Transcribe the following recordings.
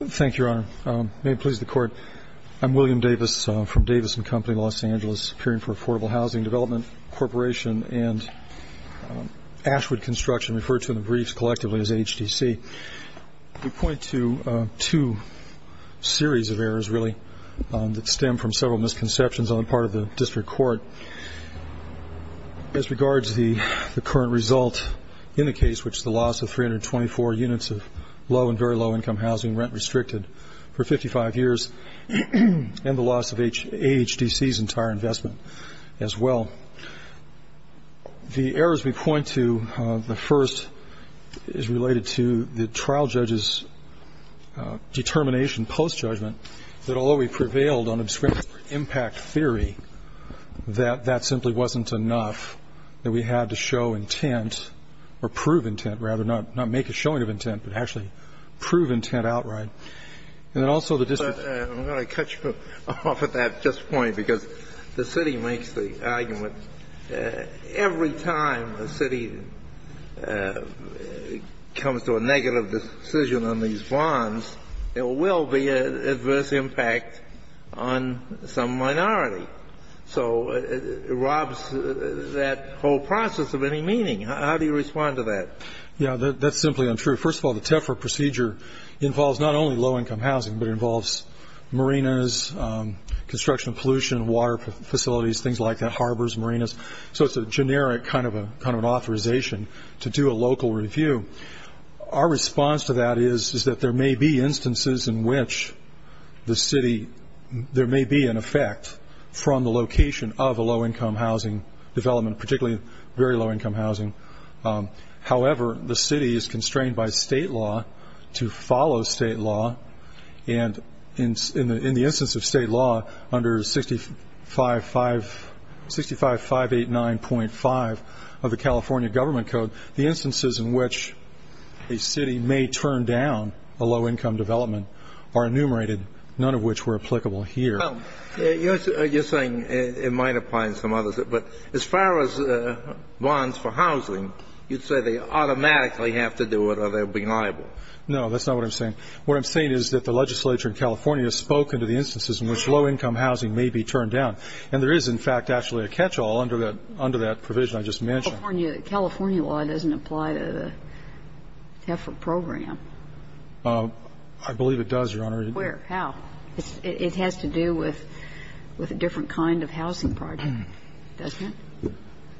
Thank you, Your Honor. May it please the Court, I'm William Davis from Davison Company, Los Angeles, appearing for Affordable Housing Development Corporation, and Ashwood Construction, referred to in the briefs collectively as AHDC. We point to two series of errors, really, that stem from several misconceptions on the part of the District Court. As regards to the current result in the case, which is the loss of 324 units of low and very low income housing rent-restricted for 55 years, and the loss of AHDC's entire investment as well. The errors we point to, the first is related to the trial judge's determination, post-judgment, that although we prevailed on obscure impact theory, that that simply wasn't enough, that we had to show intent, or prove intent rather, not make a showing of intent, but actually prove intent outright. And then also the district's ---- I'm going to cut you off at that just point, because the city makes the argument every time a city comes to a negative decision on these bonds, there will be an adverse impact on some minority. So it robs that whole process of any meaning. How do you respond to that? Yeah, that's simply untrue. First of all, the TEFRA procedure involves not only low income housing, but it involves marinas, construction of pollution, water facilities, things like that, harbors, marinas. So it's a generic kind of an authorization to do a local review. Our response to that is that there may be instances in which the city, there may be an effect from the location of a low income housing development, particularly very low income housing. However, the city is constrained by state law to follow state law. And in the instance of state law, under 65589.5 of the California Government Code, the instances in which a city may turn down a low income development are enumerated, none of which were applicable here. Well, you're saying it might apply in some others. But as far as bonds for housing, you'd say they automatically have to do it or they'll be liable. No, that's not what I'm saying. What I'm saying is that the legislature in California has spoken to the instances in which low income housing may be turned down. And there is, in fact, actually a catchall under that provision I just mentioned. California law doesn't apply to the TEFRA program. I believe it does, Your Honor. Where? How? It has to do with a different kind of housing project, doesn't it?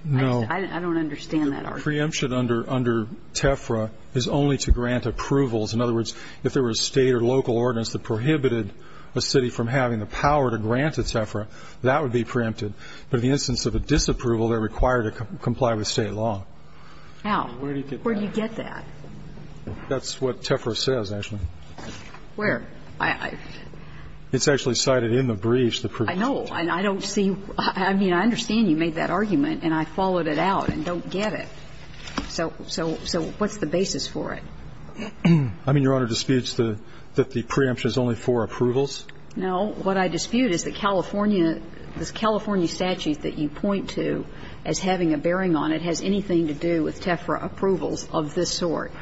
No. I don't understand that argument. Preemption under TEFRA is only to grant approvals. In other words, if there were a state or local ordinance that prohibited a city from having the power to grant a TEFRA, that would be preempted. But in the instance of a disapproval, they're required to comply with state law. How? Where do you get that? That's what TEFRA says, actually. Where? It's actually cited in the briefs. I know. And I don't see you – I mean, I understand you made that argument, and I followed it out and don't get it. So what's the basis for it? I mean, Your Honor disputes that the preemption is only for approvals? No. What I dispute is that California – this California statute that you point to as having a bearing on it has anything to do with TEFRA approvals of this sort.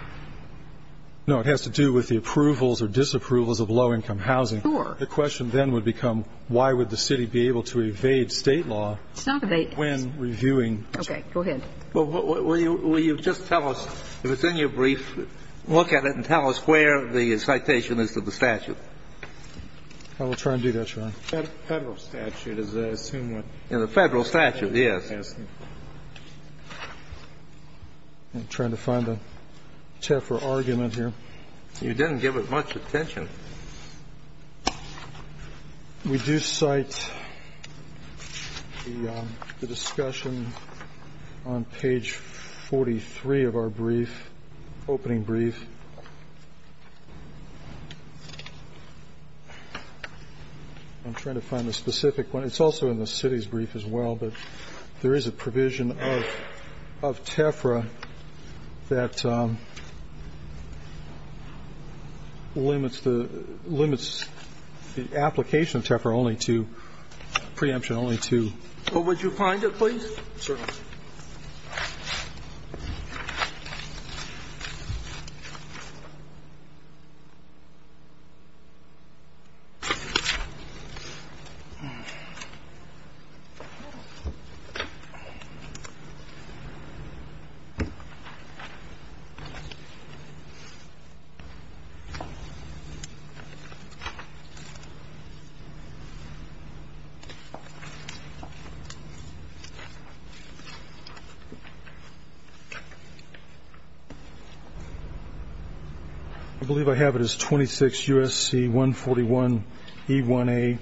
No. It has to do with the approvals or disapprovals of low-income housing. Sure. The question then would become why would the city be able to evade state law when reviewing Okay. Go ahead. Will you just tell us, if it's in your brief, look at it and tell us where the citation is to the statute. I will try and do that, Your Honor. Federal statute is, I assume, what you're asking. Federal statute, yes. I'm trying to find the TEFRA argument here. You didn't give it much attention. We do cite the discussion on page 43 of our brief, opening brief. I'm trying to find the specific one. It's also in the city's brief as well, but there is a provision of TEFRA that limits the application of TEFRA only to – preemption only to. Would you find it, please? Certainly. I believe I have it. I believe it's 26 U.S.C. 141 E1A,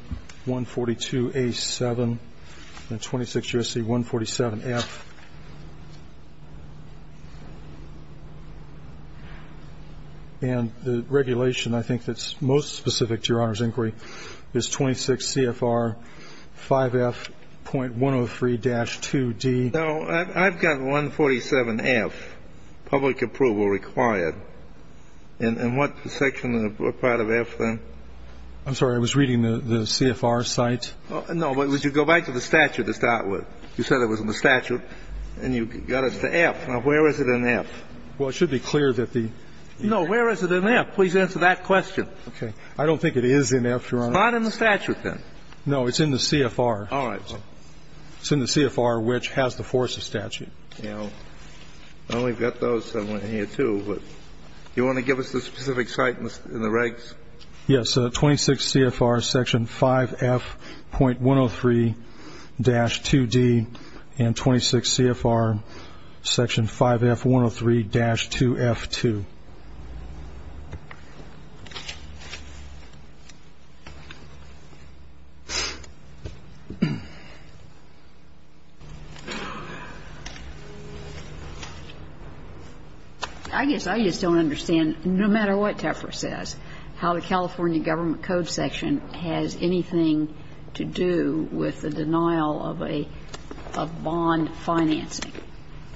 142 A7, and 26 U.S.C. 147 F. And the regulation, I think, that's most specific to Your Honor's inquiry is 26 CFR 5F.103-2D. I'm sorry. I was reading the CFR site. No, but would you go back to the statute to start with? You said it was in the statute, and you got it to F. Now, where is it in F? Well, it should be clear that the – No. Where is it in F? Please answer that question. Okay. I don't think it is in F, Your Honor. It's not in the statute, then. No. It's in the CFR. All right. It's in the CFR, which has the full statute. Yeah. Well, we've got those somewhere here, too, but do you want to give us the specific site in the regs? Yes. It's 26 CFR Section 5F.103-2D and 26 CFR Section 5F.103-2F2. I guess I just don't understand, no matter what Teffer says, how the California Government Code section has anything to do with the denial of a bond financing.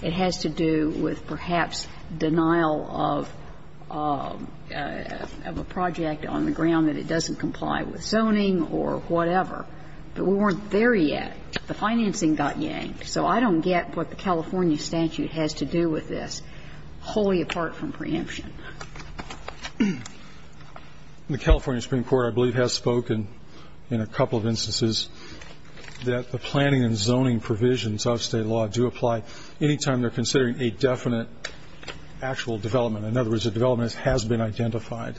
It has to do with perhaps denial of a project on the ground that it doesn't comply with zoning or whatever. But we weren't there yet. The financing got yanked. So I don't get what the California statute has to do with this, wholly apart from preemption. The California Supreme Court, I believe, has spoken in a couple of instances that the planning and zoning provisions of state law do apply any time they're considering a definite actual development. In other words, a development has been identified.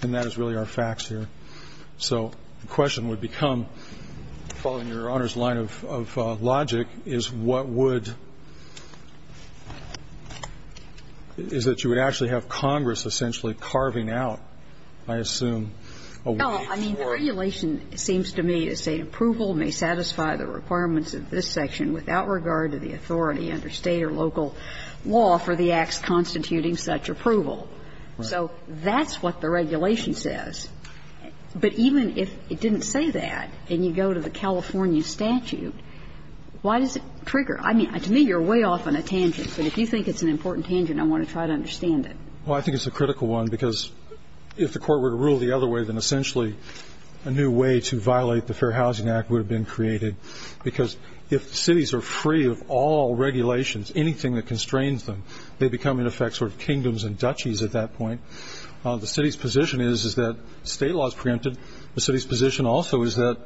And that is really our facts here. So the question would become, following Your Honor's line of logic, is what would – is that you would actually have Congress essentially carving out, I assume, a way for – a way for the California statute to say that the approval may satisfy the requirements of this section without regard to the authority under state or local law for the acts constituting such approval. So that's what the regulation says. But even if it didn't say that and you go to the California statute, why does it trigger? I mean, to me, you're way off on a tangent. But if you think it's an important tangent, I want to try to understand it. Well, I think it's a critical one, because if the Court were to rule the other way, then essentially a new way to violate the Fair Housing Act would have been created. Because if cities are free of all regulations, anything that constrains them, they become, in effect, sort of kingdoms and duchies at that point. The city's position is, is that state law is preempted. The city's position also is that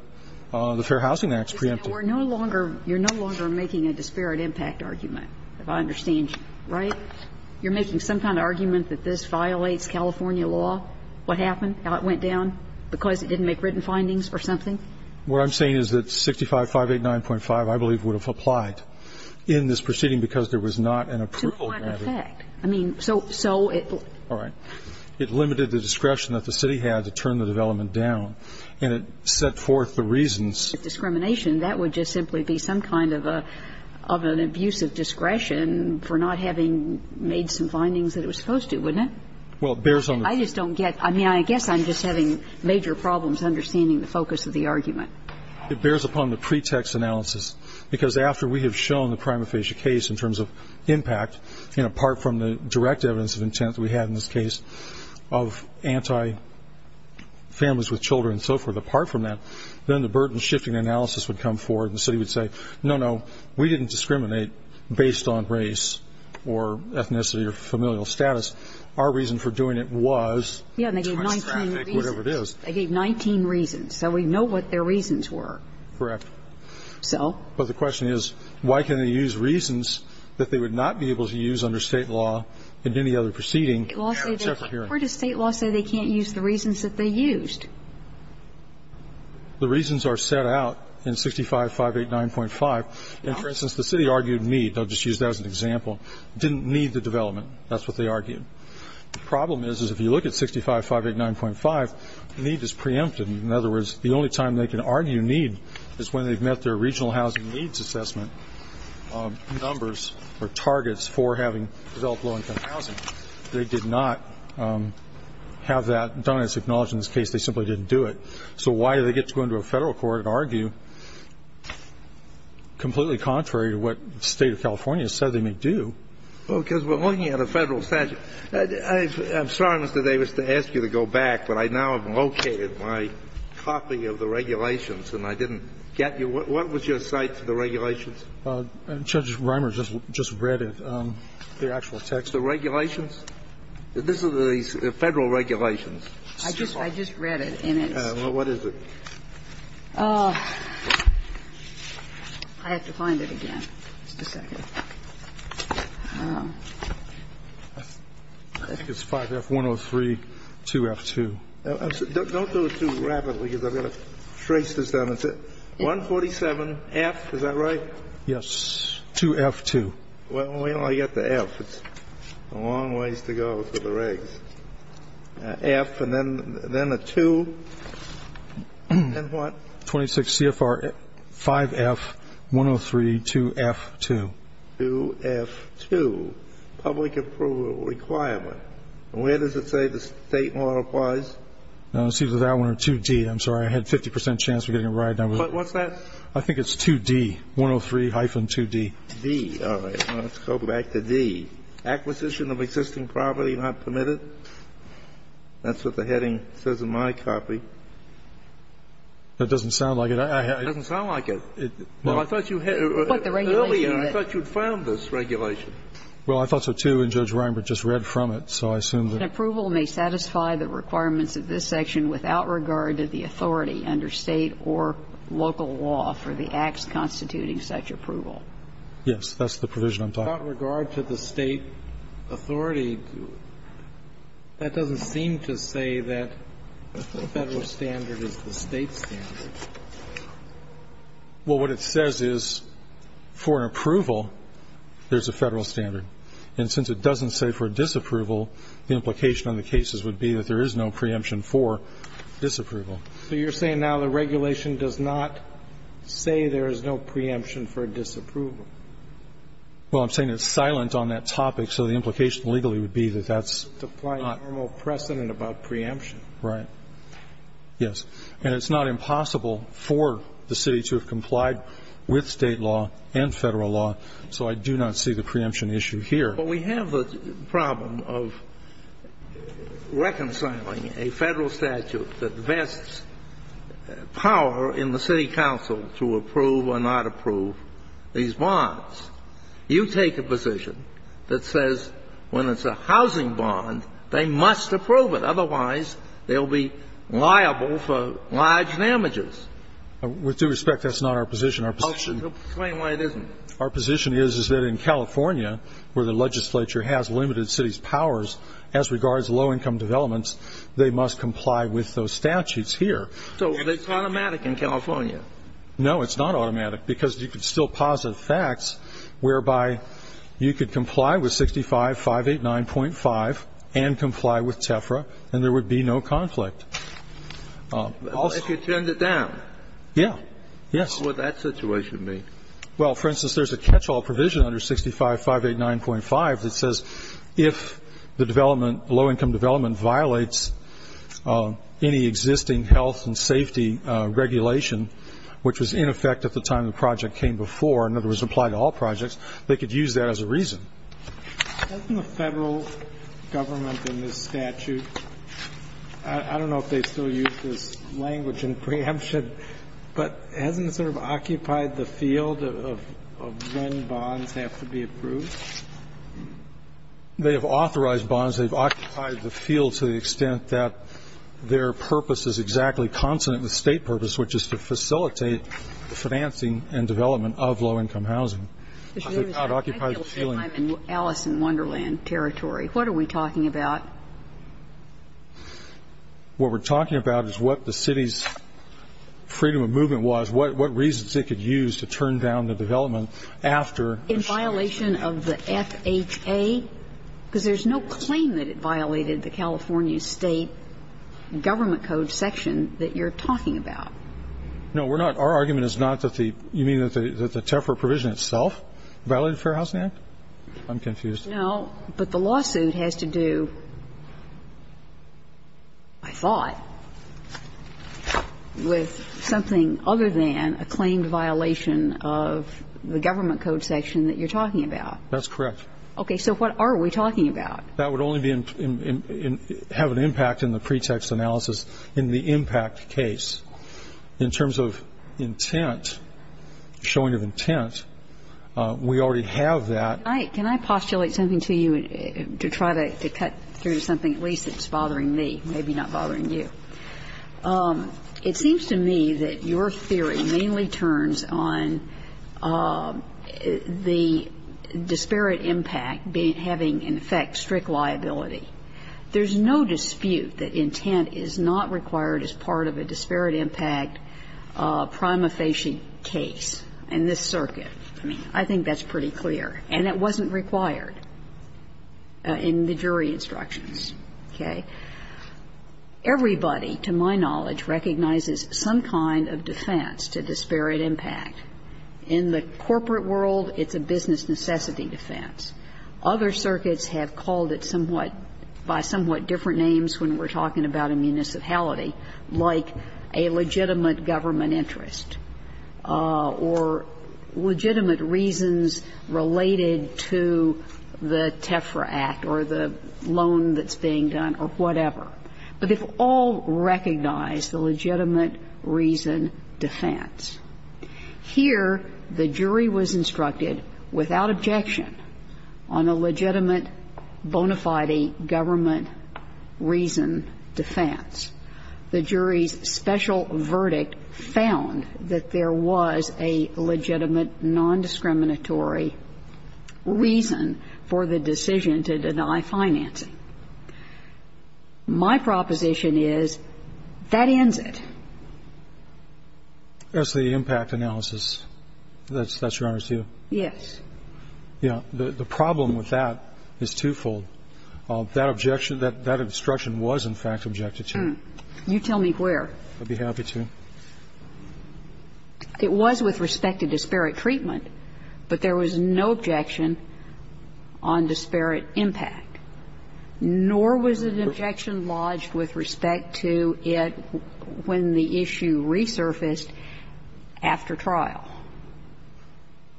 the Fair Housing Act is preempted. We're no longer – you're no longer making a disparate impact argument, if I understand you, right? You're making some kind of argument that this violates California law? What happened? How it went down? Because it didn't make written findings or something? What I'm saying is that 65589.5, I believe, would have applied in this proceeding because there was not an approval granted. To what effect? I mean, so it – All right. It limited the discretion that the city had to turn the development down. And it set forth the reasons. That would just simply be some kind of an abuse of discretion for not having made some findings that it was supposed to, wouldn't it? Well, it bears on the – I just don't get – I mean, I guess I'm just having major problems understanding the focus of the argument. It bears upon the pretext analysis. Because after we have shown the prima facie case in terms of impact, apart from the direct evidence of intent that we had in this case of anti-families with children and so forth, then the burden shifting analysis would come forward and the city would say, no, no, we didn't discriminate based on race or ethnicity or familial status. Our reason for doing it was – Yeah, and they gave 19 reasons. Whatever it is. They gave 19 reasons. So we know what their reasons were. Correct. So? But the question is, why can they use reasons that they would not be able to use under state law in any other proceeding? Where does state law say they can't use the reasons that they used? The reasons are set out in 65-589.5. And, for instance, the city argued need. I'll just use that as an example. Didn't need the development. That's what they argued. The problem is, is if you look at 65-589.5, need is preempted. In other words, the only time they can argue need is when they've met their regional housing needs assessment numbers or targets for having developed low-income housing. They did not have that done as acknowledged in this case. They simply didn't do it. So why do they get to go into a Federal court and argue completely contrary to what the State of California said they may do? Well, because we're looking at a Federal statute. I'm sorry, Mr. Davis, to ask you to go back, but I now have located my copy of the regulations, and I didn't get you. What was your cite to the regulations? Judge Reimer just read it, the actual text. The regulations? This is the Federal regulations. I just read it, and it's. Well, what is it? I have to find it again. Just a second. I think it's 5F103, 2F2. Don't go too rapidly, because I've got to trace this down. It's 147F, is that right? Yes. 2F2. Well, wait until I get to F. It's a long ways to go for the regs. So, I'm going to go back to F, then a 2, and then what? 26 CFR 5F103, 2F2. 2F2, public approval requirement. And where does it say the State model applies? It's either that one or 2D. I'm sorry, I had a 50% chance of getting it right. What's that? I think it's 2D, 103-2D. D, all right. Let's go back to D. D, acquisition of existing property not permitted. That's what the heading says in my copy. That doesn't sound like it. It doesn't sound like it. Well, I thought you had earlier, I thought you had found this regulation. Well, I thought so, too, and Judge Reinbert just read from it, so I assume that An approval may satisfy the requirements of this section without regard to the authority under State or local law for the acts constituting such approval. Yes. That's the provision I'm talking about. Without regard to the State authority, that doesn't seem to say that the Federal standard is the State standard. Well, what it says is for approval, there's a Federal standard. And since it doesn't say for disapproval, the implication on the cases would be that there is no preemption for disapproval. So you're saying now the regulation does not say there is no preemption for disapproval? Well, I'm saying it's silent on that topic, so the implication legally would be that that's not. To apply a normal precedent about preemption. Right. Yes. And it's not impossible for the City to have complied with State law and Federal law, so I do not see the preemption issue here. But we have the problem of reconciling a Federal statute that vests power in the City Council to approve or not approve these bonds. You take a position that says when it's a housing bond, they must approve it, otherwise they'll be liable for large damages. With due respect, that's not our position. Our position is that in California, where the legislature has limited cities' powers as regards low-income developments, they must comply with those statutes So it's automatic in California? No, it's not automatic, because you can still posit facts whereby you could comply with 65-589.5 and comply with TEFRA, and there would be no conflict. If you turned it down? Yeah. Yes. What would that situation be? Well, for instance, there's a catch-all provision under 65-589.5 that says if the regulation, which was in effect at the time the project came before, in other words, applied to all projects, they could use that as a reason. Hasn't the Federal government in this statute, I don't know if they still use this language in preemption, but hasn't it sort of occupied the field of when bonds have to be approved? They have authorized bonds. They've occupied the field to the extent that their purpose is exactly consonant with state purpose, which is to facilitate the financing and development of low-income housing. I feel like I'm in Alice in Wonderland territory. What are we talking about? What we're talking about is what the city's freedom of movement was, what reasons it could use to turn down the development after the statute. And that's a violation of the FHA, because there's no claim that it violated the California State Government Code section that you're talking about. No, we're not. Our argument is not that the you mean that the TEPRA provision itself violated Fair Housing Act? I'm confused. No. But the lawsuit has to do, I thought, with something other than a claimed violation of the Government Code section that you're talking about. That's correct. Okay. So what are we talking about? That would only have an impact in the pretext analysis in the impact case. In terms of intent, showing of intent, we already have that. Can I postulate something to you to try to cut through something at least that's bothering me, maybe not bothering you? It seems to me that your theory mainly turns on the disparate impact having, in effect, strict liability. There's no dispute that intent is not required as part of a disparate impact prima facie case in this circuit. I mean, I think that's pretty clear. And it wasn't required in the jury instructions. Okay? Everybody, to my knowledge, recognizes some kind of defense to disparate impact. In the corporate world, it's a business necessity defense. Other circuits have called it somewhat by somewhat different names when we're talking about a municipality, like a legitimate government interest or legitimate reasons related to the TEFRA Act or the loan that's being done or whatever. But they've all recognized the legitimate reason defense. Here, the jury was instructed without objection on a legitimate bona fide government reason defense. The jury's special verdict found that there was a legitimate nondiscriminatory reason for the decision to deny financing. My proposition is that ends it. That's the impact analysis. That's your honor's view? Yes. Yeah. The problem with that is twofold. First of all, there was no objection on disparate impact. There was no objection on disparate impact. That objection, that instruction was, in fact, objected to. You tell me where. I'd be happy to. It was with respect to disparate treatment, but there was no objection on disparate impact, nor was an objection lodged with respect to it when the issue resurfaced after trial.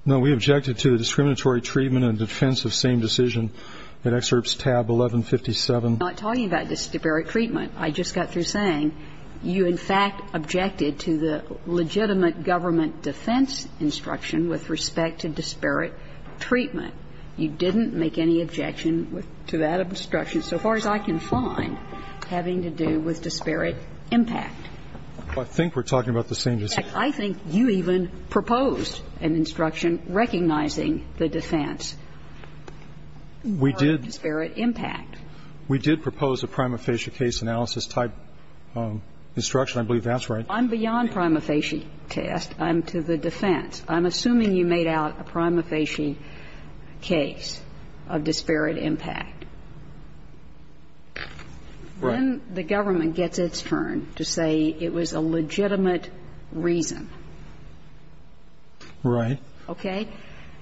No. We objected to the discriminatory treatment and defense of same decision in Excerpts tab 1157. I'm not talking about disparate treatment. I just got through saying you, in fact, objected to the legitimate government defense instruction with respect to disparate treatment. You didn't make any objection to that instruction, so far as I can find, having to do with disparate impact. I think we're talking about the same decision. In fact, I think you even proposed an instruction recognizing the defense. We did. Disparate impact. We did propose a prima facie case analysis type instruction. I believe that's right. I'm beyond prima facie test. I'm to the defense. I'm assuming you made out a prima facie case of disparate impact. Right. Then the government gets its turn to say it was a legitimate reason. Right. Okay?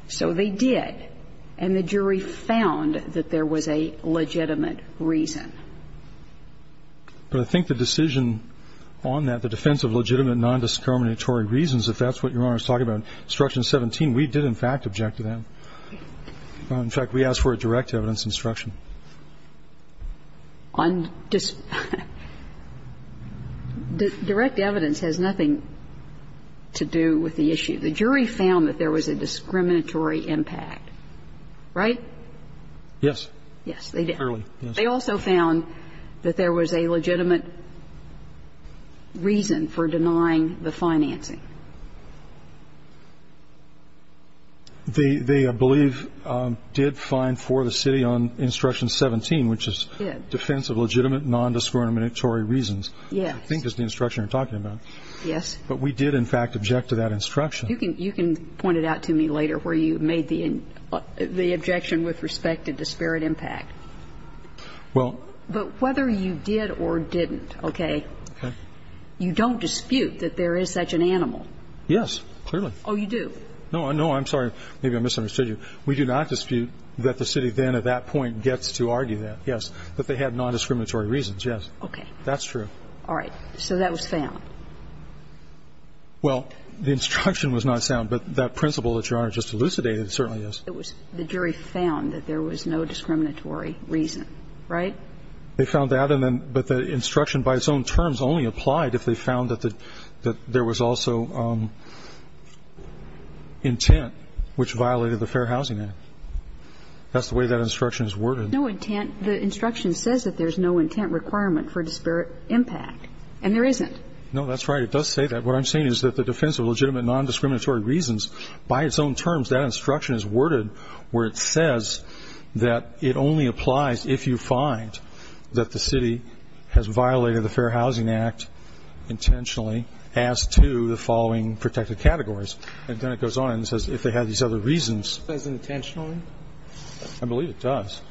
So they did, and the jury found that there was a legitimate reason. But I think the decision on that, the defense of legitimate nondiscriminatory reasons, if that's what Your Honor is talking about, instruction 17, we did, in fact, object to that. In fact, we asked for a direct evidence instruction. Direct evidence has nothing to do with the issue. The jury found that there was a discriminatory impact, right? Yes. Yes, they did. They also found that there was a legitimate reason for denying the financing. They, I believe, did find for the city on instruction 17, which is defense of legitimate nondiscriminatory reasons, I think is the instruction you're talking about. Yes. But we did, in fact, object to that instruction. You can point it out to me later where you made the objection with respect to disparate impact. But whether you did or didn't, okay, you don't dispute that there is such an animal. Yes, clearly. Oh, you do? No. No, I'm sorry. Maybe I misunderstood you. We do not dispute that the city then at that point gets to argue that, yes, that they had nondiscriminatory reasons, yes. Okay. That's true. All right. So that was found. Well, the instruction was not found, but that principle that Your Honor just elucidated certainly is. It was the jury found that there was no discriminatory reason, right? They found that, but the instruction by its own terms only applied if they found that there was also intent which violated the Fair Housing Act. That's the way that instruction is worded. No intent. The instruction says that there is no intent requirement for disparate impact, and there isn't. No, that's right. It does say that. What I'm saying is that the defense of legitimate nondiscriminatory reasons, by its own terms, that instruction is worded where it says that it only applies if you find that the city has violated the Fair Housing Act intentionally as to the following protected categories. And then it goes on and says if they had these other reasons. Does it say intentionally? I believe it does.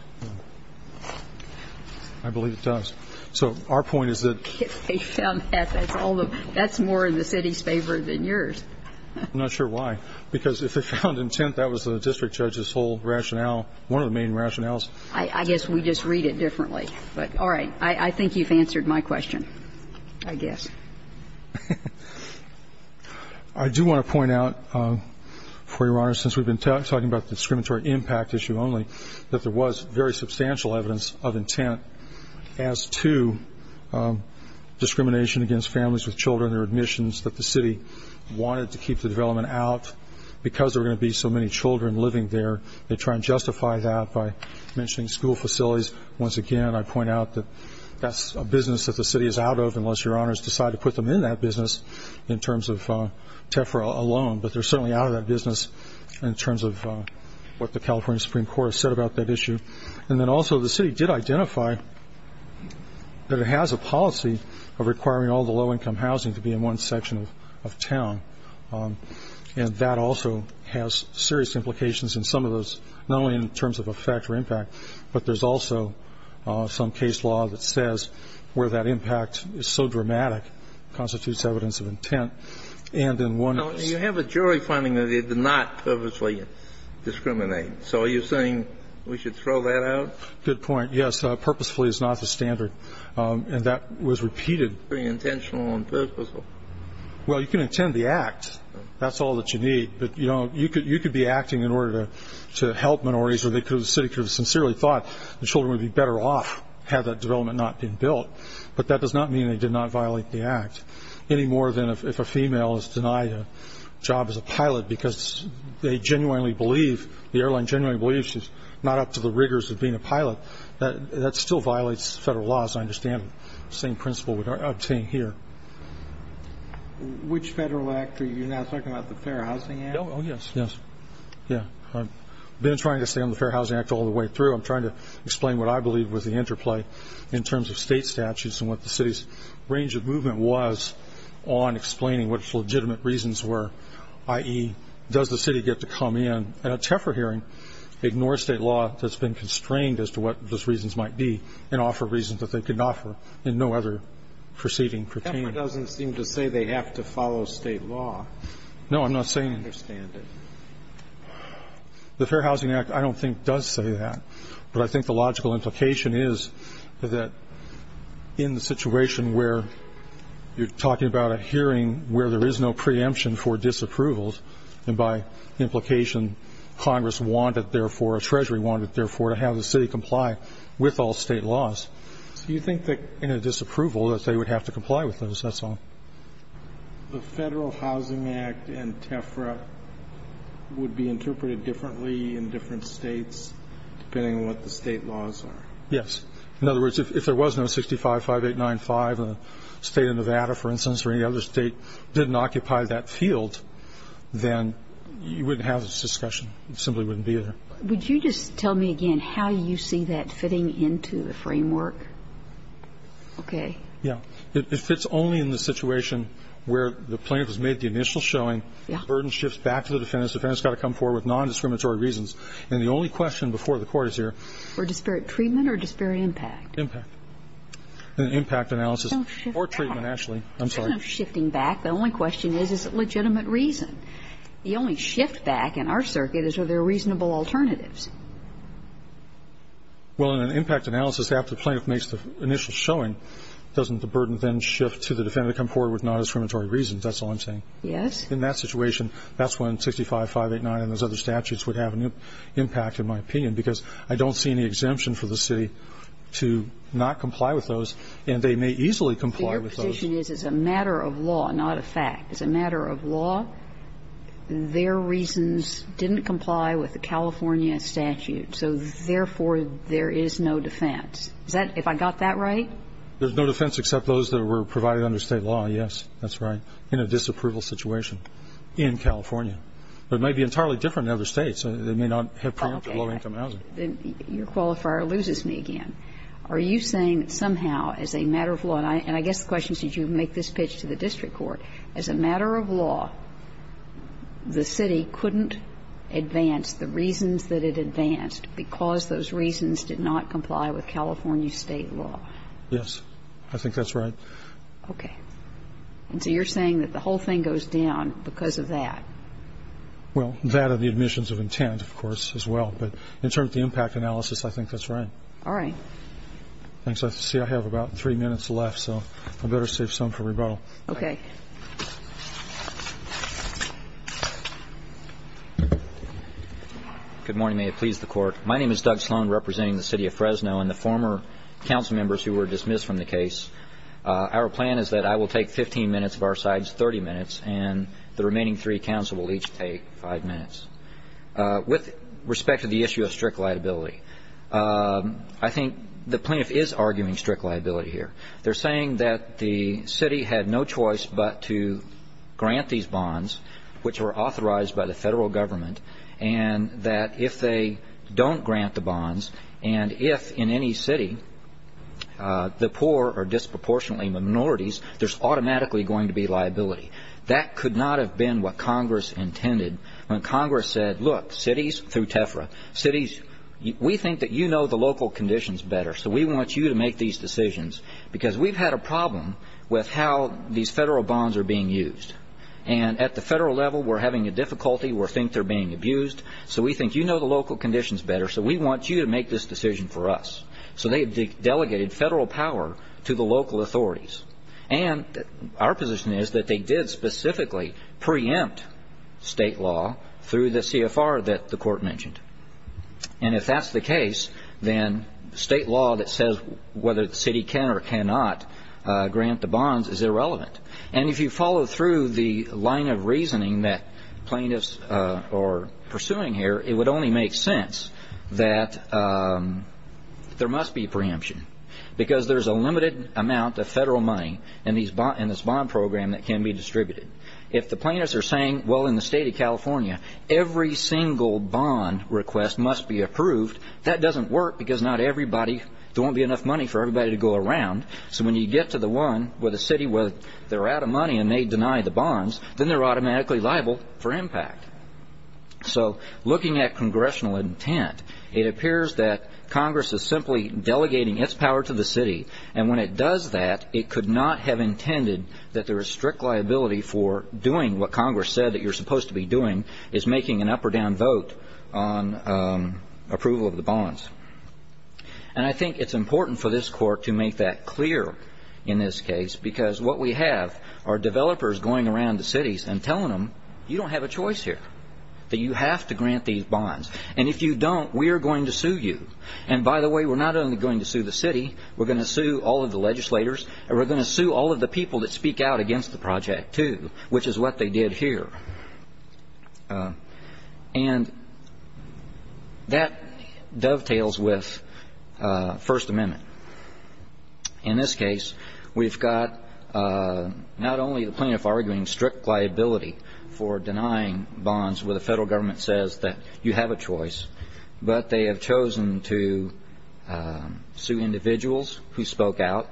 I believe it does. So our point is that they found that. That's more in the city's favor than yours. I'm not sure why. Because if they found intent, that was the district judge's whole rationale, one of the main rationales. I guess we just read it differently. But all right. I think you've answered my question, I guess. I do want to point out, Your Honor, since we've been talking about the discriminatory impact issue only, that there was very substantial evidence of intent as to discrimination against families with children or admissions that the city wanted to keep the development out. Because there were going to be so many children living there, they try and justify that by mentioning school facilities. Once again, I point out that that's a business that the city is out of, unless Your Honors decide to put them in that business in terms of TEFRA alone. But they're certainly out of that business in terms of what the California Supreme Court has said about that issue. And then also the city did identify that it has a policy of requiring all the low-income housing to be in one section of town. And that also has serious implications in some of those, not only in terms of effect or impact, but there's also some case law that says where that impact is so dramatic constitutes evidence of intent. And in one of those --- You have a jury finding that it did not purposely discriminate. So are you saying we should throw that out? Good point. Yes. Purposefully is not the standard. And that was repeated. Very intentional and purposeful. Well, you can intend the act. That's all that you need. But you could be acting in order to help minorities, or the city could have sincerely thought the children would be better off had that development not been built. But that does not mean they did not violate the act, any more than if a female is denied a job as a pilot because they genuinely believe, the airline genuinely believes she's not up to the rigors of being a pilot. That still violates federal laws. I understand the same principle we're obtaining here. Which federal act? Are you now talking about the Fair Housing Act? Oh, yes. Yes. Yeah. I've been trying to stay on the Fair Housing Act all the way through. I'm trying to explain what I believe was the interplay in terms of state statutes and what the city's range of movement was on explaining what its legitimate reasons were, i.e., does the city get to come in at a TEFR hearing, ignore state law that's been constrained as to what those reasons might be, and offer reasons that they could offer in no other proceeding pertaining. TEFR doesn't seem to say they have to follow state law. No, I'm not saying. I don't understand it. The Fair Housing Act, I don't think, does say that. But I think the logical implication is that in the situation where you're talking about a hearing where there is no preemption for disapproval, and by implication, Congress wanted, therefore, or Treasury wanted, therefore, to have the city comply with all state laws. So you think that in a disapproval that they would have to comply with those, that's all? The Federal Housing Act and TEFRA would be interpreted differently in different states depending on what the state laws are. Yes. In other words, if there was no 65-5895 in the state of Nevada, for instance, or any Would you just tell me again how you see that fitting into the framework? Okay. Yeah. If it's only in the situation where the plaintiff has made the initial showing, the burden shifts back to the defendant, the defendant's got to come forward with nondiscriminatory reasons. And the only question before the Court is here. For disparate treatment or disparate impact? Impact. An impact analysis. Don't shift back. Or treatment, actually. I'm sorry. I'm not shifting back. The only question is, is it legitimate reason? The only shift back in our circuit is, are there reasonable alternatives? Well, in an impact analysis, after the plaintiff makes the initial showing, doesn't the burden then shift to the defendant to come forward with nondiscriminatory reasons? That's all I'm saying. Yes. In that situation, that's when 65-589 and those other statutes would have an impact, in my opinion, because I don't see any exemption for the city to not comply with those, and they may easily comply with those. So your position is it's a matter of law, not a fact. As a matter of law, their reasons didn't comply with the California statute. So, therefore, there is no defense. Is that, if I got that right? There's no defense except those that were provided under State law, yes. That's right. In a disapproval situation in California. But it might be entirely different in other States. They may not have preempted low-income housing. Okay. Your qualifier loses me again. Are you saying somehow, as a matter of law, and I guess the question is, did you make this pitch to the district court, as a matter of law, the city couldn't advance the reasons that it advanced because those reasons did not comply with California State law? Yes. I think that's right. Okay. And so you're saying that the whole thing goes down because of that. Well, that and the admissions of intent, of course, as well. But in terms of the impact analysis, I think that's right. All right. Thanks. I see I have about three minutes left, so I better save some for rebuttal. Okay. Good morning. May it please the Court. My name is Doug Sloan, representing the City of Fresno and the former council members who were dismissed from the case. Our plan is that I will take 15 minutes of our side's 30 minutes, and the remaining three council will each take five minutes. With respect to the issue of strict liability, I think the plaintiff is arguing strict liability here. They're saying that the city had no choice but to grant these bonds, which were authorized by the federal government, and that if they don't grant the bonds and if in any city the poor are disproportionately minorities, there's automatically going to be liability. That could not have been what Congress intended. When Congress said, look, cities, through TEFRA, cities, we think that you know the local conditions better, so we want you to make these decisions, because we've had a problem with how these federal bonds are being used. And at the federal level, we're having a difficulty. We think they're being abused. So we think you know the local conditions better, so we want you to make this decision for us. So they delegated federal power to the local authorities. And our position is that they did specifically preempt state law through the CFR that the court mentioned. And if that's the case, then state law that says whether the city can or cannot grant the bonds is irrelevant. And if you follow through the line of reasoning that plaintiffs are pursuing here, it would only make sense that there must be preemption, because there's a limited amount of federal money in this bond program that can be distributed. If the plaintiffs are saying, well, in the state of California, every single bond request must be approved, that doesn't work because not everybody, there won't be enough money for everybody to go around. So when you get to the one where the city, where they're out of money and they deny the bonds, then they're automatically liable for impact. So looking at congressional intent, it appears that Congress is simply delegating its power to the city. And when it does that, it could not have intended that the strict liability for doing what Congress said that you're supposed to be doing is making an up or down vote on approval of the bonds. And I think it's important for this court to make that clear in this case, because what we have are developers going around the cities and telling them, you don't have a choice here, that you have to grant these bonds, and if you don't, we are going to sue you. And by the way, we're not only going to sue the city, we're going to sue all of the legislators, and we're going to sue all of the people that speak out against the project too, which is what they did here. And that dovetails with First Amendment. In this case, we've got not only the plaintiff arguing strict liability for denying bonds where the federal government says that you have a choice, but they have chosen to sue individuals who spoke out,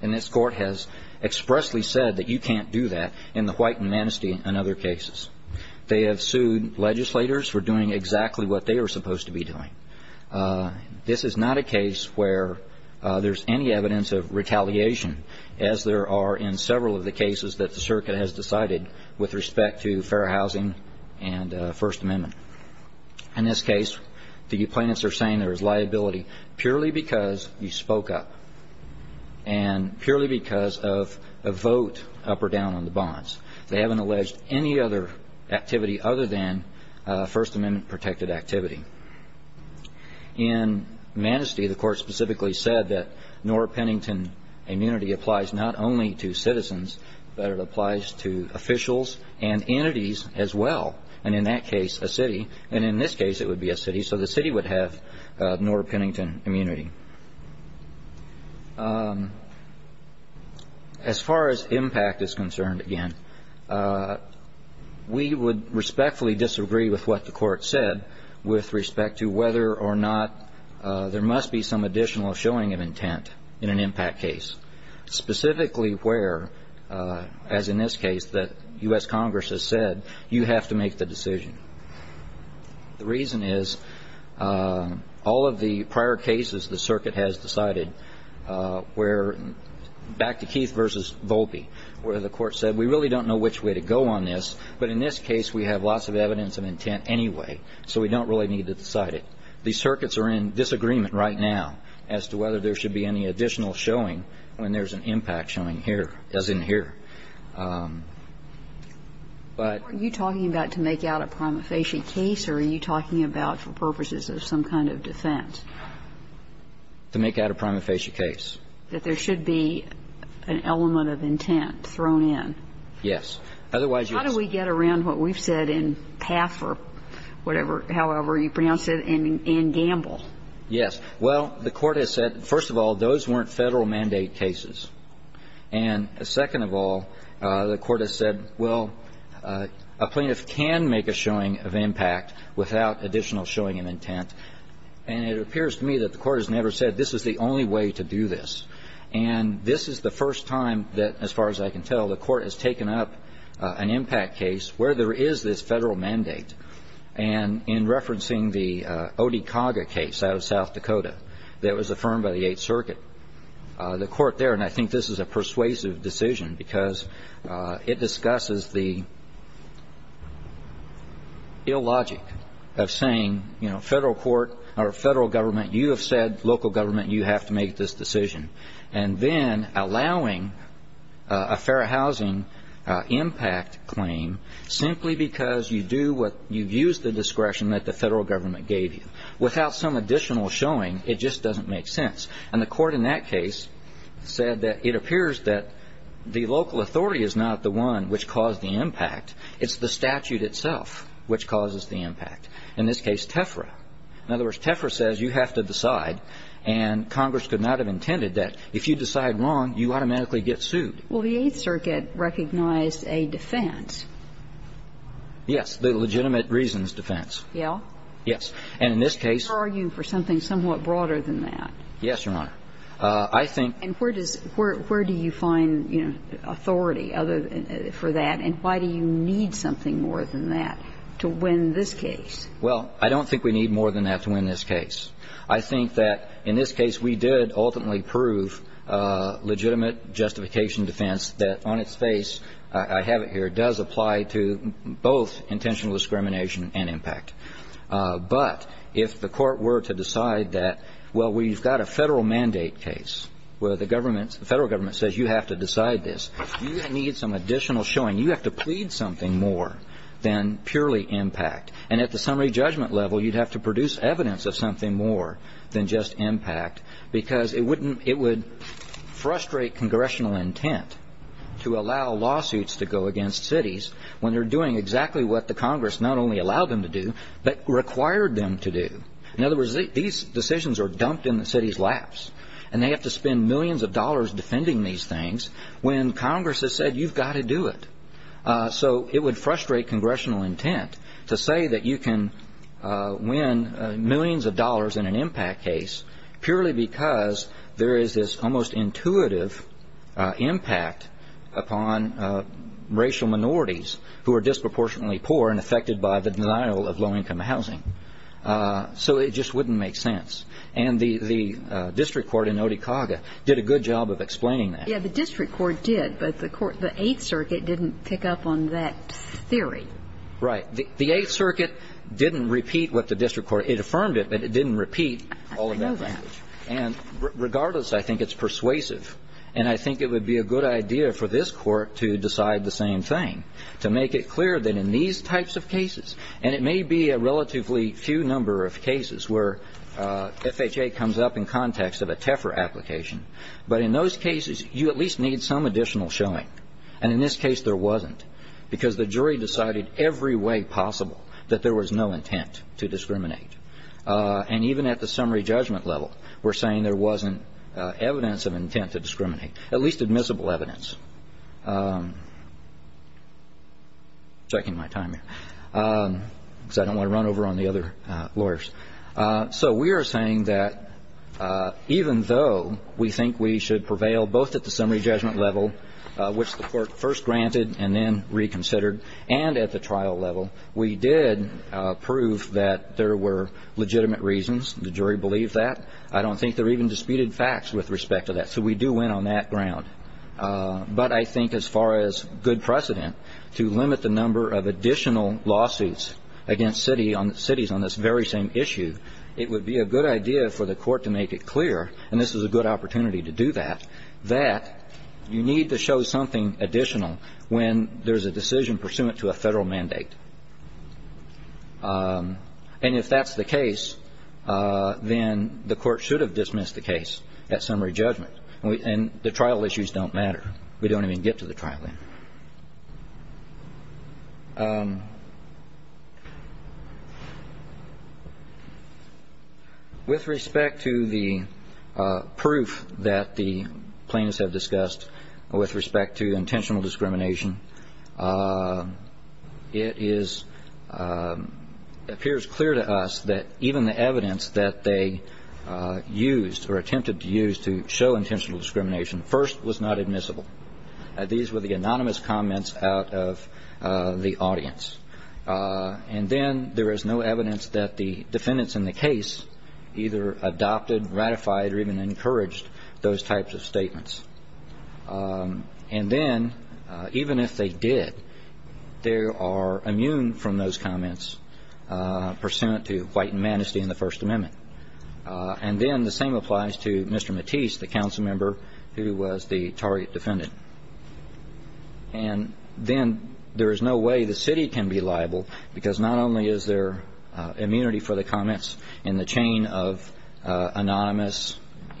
and this court has expressly said that you can't do that in the White and Manistee and other cases. They have sued legislators for doing exactly what they were supposed to be doing. This is not a case where there's any evidence of retaliation, as there are in several of the cases that the circuit has decided with respect to fair housing and First Amendment. In this case, the plaintiffs are saying there is liability purely because you spoke up, and purely because of a vote up or down on the bonds. They haven't alleged any other activity other than First Amendment-protected activity. In Manistee, the court specifically said that Norah Pennington immunity applies not only to citizens, but it applies to officials and entities as well, and in that case, a city. And in this case, it would be a city, so the city would have Norah Pennington immunity. As far as impact is concerned, again, we would respectfully disagree with what the court said with respect to whether or not there must be some additional showing of intent in an impact case, specifically where, as in this case that U.S. Congress has said, you have to make the decision. The reason is all of the prior cases the circuit has decided were back to Keith v. Volpe, where the court said we really don't know which way to go on this, but in this case we have lots of evidence of intent anyway, so we don't really need to decide it. These circuits are in disagreement right now as to whether there should be any additional showing when there's an impact showing here, as in here. But you're talking about to make out a prima facie case, or are you talking about for purposes of some kind of defense? To make out a prima facie case. That there should be an element of intent thrown in. Yes. Otherwise, yes. How do we get around what we've said in Paffer, whatever, however you pronounce it, and Gamble? Yes. Well, the court has said, first of all, those weren't Federal mandate cases. And second of all, the court has said, well, a plaintiff can make a showing of impact without additional showing of intent. And it appears to me that the court has never said this is the only way to do this. And this is the first time that, as far as I can tell, the court has taken up an impact case where there is this Federal mandate. And in referencing the Odekaga case out of South Dakota that was affirmed by the Eighth Circuit, the court there, and I think this is a persuasive decision because it discusses the illogic of saying, you know, Federal court or Federal government, you have said, local government, you have to make this decision. And then allowing a fair housing impact claim simply because you do what, you've used the discretion that the Federal government gave you. Without some additional showing, it just doesn't make sense. And the court in that case said that it appears that the local authority is not the one which caused the impact. It's the statute itself which causes the impact. In this case, TEFRA. In other words, TEFRA says you have to decide. And Congress could not have intended that. If you decide wrong, you automatically get sued. Well, the Eighth Circuit recognized a defense. Yes. The legitimate reasons defense. Yeah? Yes. And in this case. I'm going to argue for something somewhat broader than that. Yes, Your Honor. I think. And where does, where do you find, you know, authority for that? And why do you need something more than that to win this case? Well, I don't think we need more than that to win this case. I think that in this case we did ultimately prove legitimate justification defense that on its face, I have it here, does apply to both intentional discrimination and impact. But if the court were to decide that, well, we've got a federal mandate case where the government, the federal government says you have to decide this. You need some additional showing. You have to plead something more than purely impact. And at the summary judgment level, you'd have to produce evidence of something more than just impact because it wouldn't, it would frustrate congressional intent to allow lawsuits to go against cities when they're doing exactly what the Congress not only allowed them to do, but required them to do. In other words, these decisions are dumped in the city's laps and they have to spend millions of dollars defending these things when Congress has said you've got to do it. So it would frustrate congressional intent to say that you can win millions of dollars in an impact case purely because there is this almost intuitive impact upon racial minorities who are disproportionately poor and affected by the denial of low-income housing. So it just wouldn't make sense. And the district court in Oticaga did a good job of explaining that. Yeah, the district court did, but the eighth circuit didn't pick up on that theory. Right. The eighth circuit didn't repeat what the district court, it affirmed it, but it didn't repeat all of that language. And regardless, I think it's persuasive. And I think it would be a good idea for this court to decide the same thing, to make it clear that in these types of cases, and it may be a relatively few number of cases where FHA comes up in context of a TEFR application, but in those cases you at least need some additional showing. And in this case there wasn't because the jury decided every way possible that there was no intent to discriminate. And even at the summary judgment level, we're saying there wasn't evidence of intent to discriminate, at least admissible evidence. Checking my time here because I don't want to run over on the other lawyers. So we are saying that even though we think we should prevail both at the summary judgment level, which the court first granted and then reconsidered, and at the trial level, we did prove that there were legitimate reasons. The jury believed that. I don't think there were even disputed facts with respect to that. So we do win on that ground. But I think as far as good precedent to limit the number of additional lawsuits against cities on this very same issue, it would be a good idea for the court to make it clear, and this is a good opportunity to do that, that you need to show something additional when there's a decision pursuant to a Federal mandate. And if that's the case, then the court should have dismissed the case at summary judgment. And the trial issues don't matter. We don't even get to the trial. With respect to the proof that the plaintiffs have discussed with respect to intentional discrimination, it is appears clear to us that even the evidence that they used or attempted to use to show intentional discrimination, first was not admissible. These were the anonymous comments out of the audience. And then there is no evidence that the defendants in the case either adopted, ratified, or even encouraged those types of statements. And then, even if they did, they are immune from those comments pursuant to White and Manistee and the First Amendment. And then the same applies to Mr. Matisse, the council member who was the target defendant. And then there is no way the city can be liable because not only is there immunity for the comments in the chain of anonymous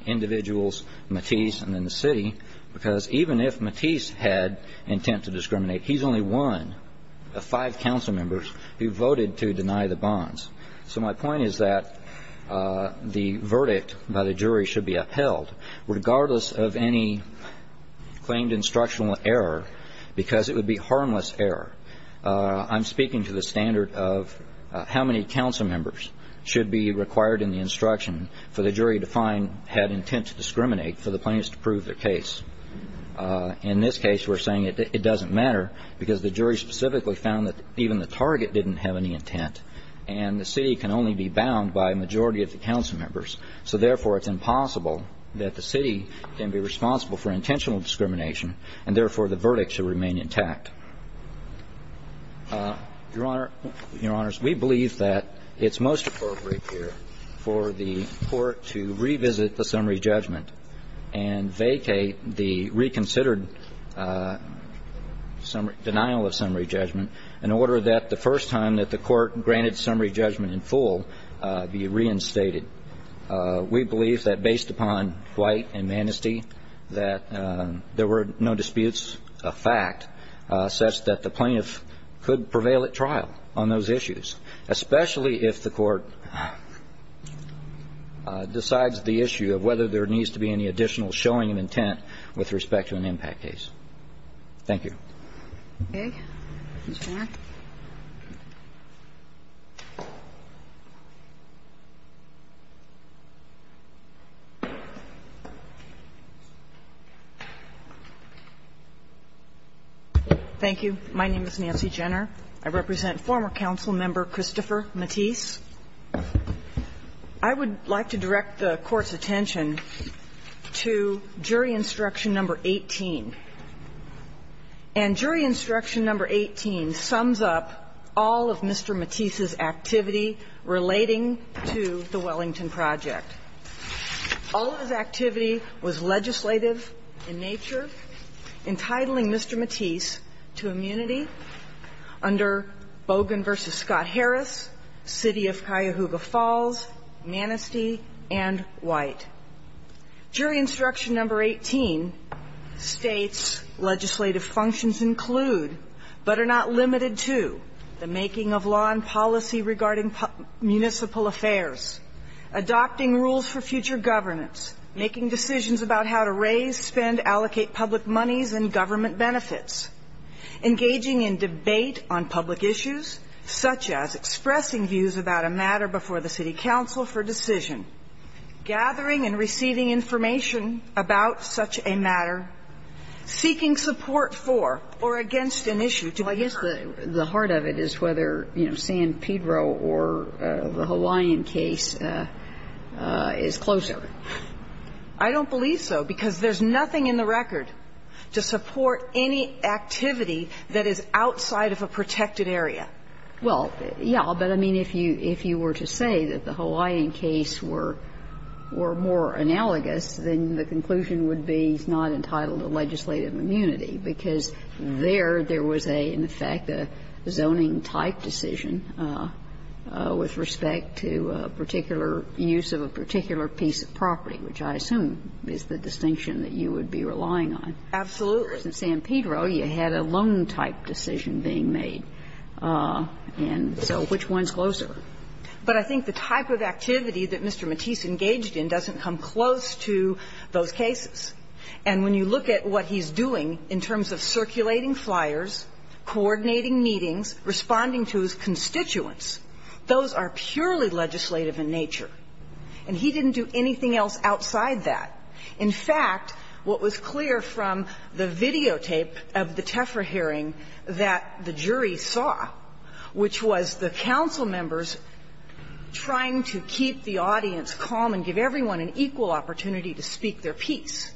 individuals, Matisse and then the city, because even if Matisse had intent to discriminate, he's only one of five council members who voted to deny the bonds. So my point is that the verdict by the jury should be upheld, regardless of any claimed instructional error, because it would be harmless error. I'm speaking to the standard of how many council members should be required in the instruction for the jury to find had intent to discriminate for the plaintiffs to prove their case. In this case, we're saying it doesn't matter because the jury specifically found that even the target didn't have any intent. And the city can only be bound by a majority of the council members. So, therefore, it's impossible that the city can be responsible for intentional discrimination, and, therefore, the verdict should remain intact. Your Honor, Your Honors, we believe that it's most appropriate here for the Court to revisit the summary judgment and vacate the reconsidered denial of summary judgment in order that the first time that the Court granted summary judgment in full be reinstated. We believe that based upon Dwight and Manistee, that there were no disputes of fact such that the plaintiff could prevail at trial on those issues, especially if the Court decides the issue of whether there needs to be any additional showing of intent with respect to an impact case. Thank you. Thank you. My name is Nancy Jenner. I represent former council member Christopher Matisse. I would like to direct the Court's attention to Jury Instruction No. 18. And Jury Instruction No. 18 sums up all of Mr. Matisse's activity relating to the Wellington Project. All of his activity was legislative in nature, entitling Mr. Matisse to immunity under Bogan v. Scott Harris, City of Cuyahoga Falls, Manistee, and White. Jury Instruction No. 18 states legislative functions include, but are not limited to, the making of law and policy regarding municipal affairs, adopting rules for future governance, making decisions about how to raise, spend, allocate public monies and government benefits, engaging in debate on public issues, such as expressing views about a matter before the city council for decision, gathering and receiving information about such a matter, seeking support for or against an issue. So I guess the heart of it is whether, you know, San Pedro or the Hawaiian case is closer. I don't believe so, because there's nothing in the record to support any activity that is outside of a protected area. Well, yeah, but I mean, if you were to say that the Hawaiian case were more analogous, then the conclusion would be it's not entitled to legislative immunity, because there, there was a, in effect, a zoning-type decision with respect to a particular use of a particular piece of property, which I assume is the distinction that you would be relying on. Absolutely. In San Pedro, you had a loan-type decision being made, and so which one's closer? But I think the type of activity that Mr. Mattis engaged in doesn't come close to those cases. And when you look at what he's doing in terms of circulating flyers, coordinating meetings, responding to his constituents, those are purely legislative in nature. And he didn't do anything else outside that. In fact, what was clear from the videotape of the Tefra hearing that the jury saw, which was the council members trying to keep the audience calm and give everyone an equal opportunity to speak their piece,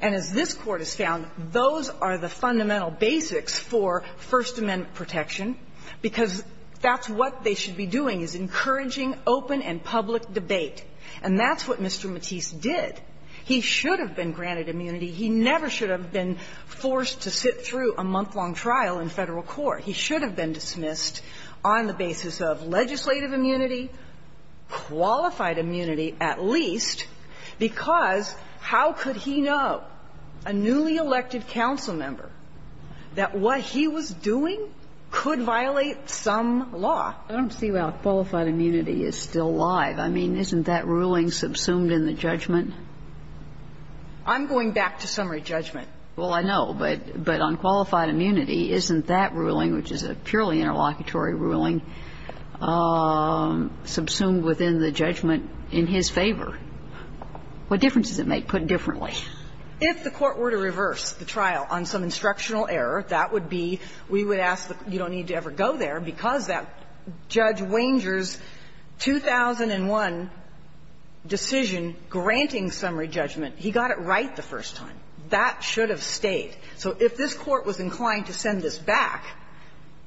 and as this Court has found, those are the fundamental basics for First Amendment protection, because that's what they should be doing is encouraging open and public debate. And that's what Mr. Mattis did. He should have been granted immunity. He never should have been forced to sit through a month-long trial in Federal Court. He should have been dismissed on the basis of legislative immunity, qualified immunity at least, because how could he know, a newly elected council member, that what he was doing could violate some law? I don't see why qualified immunity is still alive. I mean, isn't that ruling subsumed in the judgment? I'm going back to summary judgment. Well, I know, but on qualified immunity, isn't that ruling, which is a purely interlocutory ruling, subsumed within the judgment in his favor? What difference does it make, put differently? If the Court were to reverse the trial on some instructional error, that would be, we would ask that you don't need to ever go there, because that Judge Wanger's 2001 decision granting summary judgment, he got it right the first time. That should have stayed. So if this Court was inclined to send this back,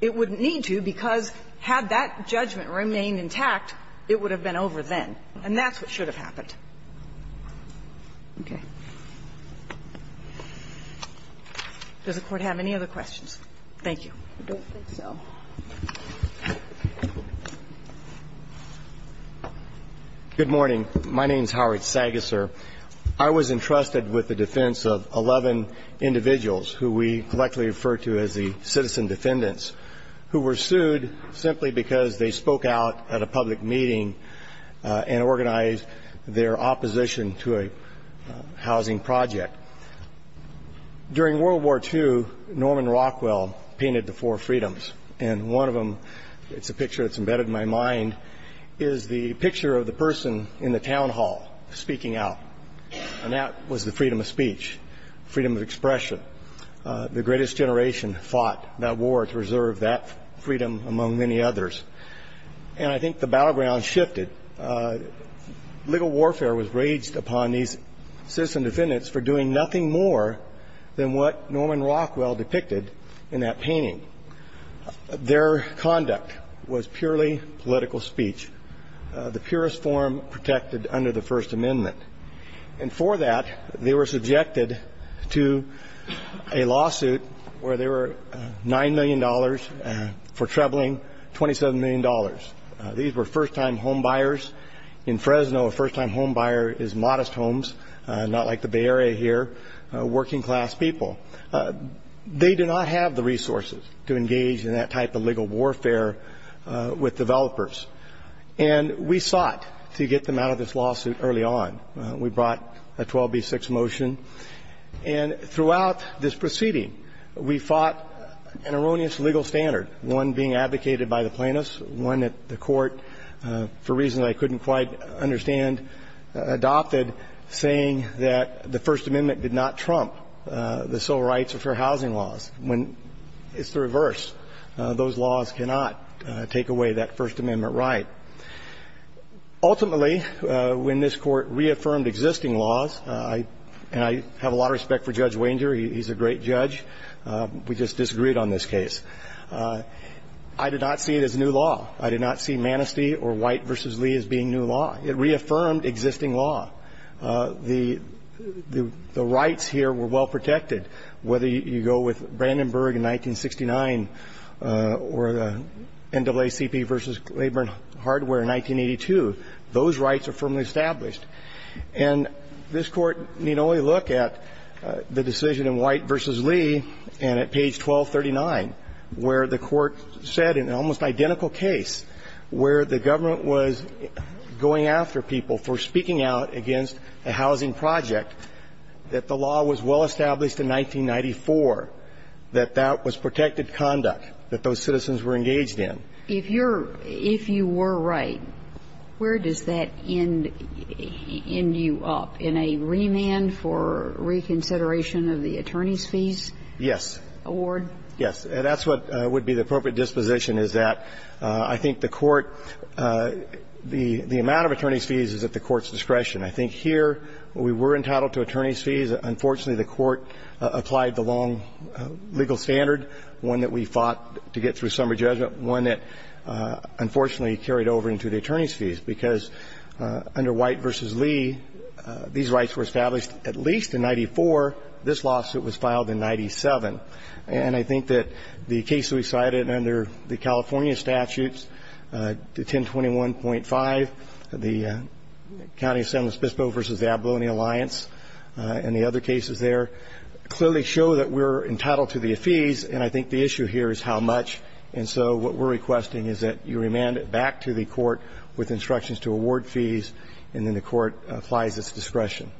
it wouldn't need to, because had that judgment remained intact, it would have been over then. And that's what should have happened. Okay. Does the Court have any other questions? Thank you. I don't think so. Good morning. My name's Howard Sagaser. I was entrusted with the defense of 11 individuals, who we collectively refer to as the citizen defendants, who were sued simply because they spoke out at a public meeting and organized their opposition to a housing project. During World War II, Norman Rockwell painted the four freedoms, and one of them, it's a picture that's embedded in my mind, is the picture of the person in the town hall speaking out, and that was the freedom of speech, freedom of expression. The greatest generation fought that war to reserve that freedom, among many others. And I think the battleground shifted. Legal warfare was raged upon these citizen defendants for doing nothing more than what Norman Rockwell depicted in that painting. Their conduct was purely political speech, the purest form protected under the First Amendment. And for that, they were subjected to a lawsuit where they were $9 million for troubling $27 million. These were first-time homebuyers. In Fresno, a first-time homebuyer is modest homes, not like the Bay Area here, working-class people. They did not have the resources to engage in that type of legal warfare with developers. And we sought to get them out of this lawsuit early on. We brought a 12b6 motion. And throughout this proceeding, we fought an erroneous legal standard, one being advocated by the plaintiffs, one that the court, for reasons I couldn't quite understand, adopted, saying that the First Amendment did not trump the civil rights or fair housing laws. It's the reverse. Those laws cannot take away that First Amendment right. Ultimately, when this court reaffirmed existing laws, and I have a lot of respect for Judge Wanger. He's a great judge. We just disagreed on this case. I did not see it as new law. I did not see Manistee or White v. Lee as being new law. It reaffirmed existing law. The rights here were well protected, whether you go with Brandenburg in 1969 or the NAACP v. Labor and Hardware in 1982. Those rights are firmly established. And this court need only look at the decision in White v. Lee and at page 1239 where the court said, in an almost identical case, where the government was going after people for speaking out against a housing project, that the law was well established in 1994, that that was protected conduct that those citizens were engaged If you're – if you were right, where does that end you up? In a remand for reconsideration of the attorney's fees? Yes. Award? Yes. And that's what would be the appropriate disposition is that I think the court – the amount of attorney's fees is at the court's discretion. I think here, we were entitled to attorney's fees. Unfortunately, the court applied the long legal standard, one that we fought to get to a summary judgment, one that, unfortunately, carried over into the attorney's fees because under White v. Lee, these rights were established at least in 94. This lawsuit was filed in 97. And I think that the cases we cited under the California statutes, 1021.5, the County Assembly's Bispo v. the Abalone Alliance and the other cases there clearly show that we're entitled to the fees. And I think the issue here is how much. And so what we're requesting is that you remand it back to the court with instructions to award fees. And then the court applies its discretion.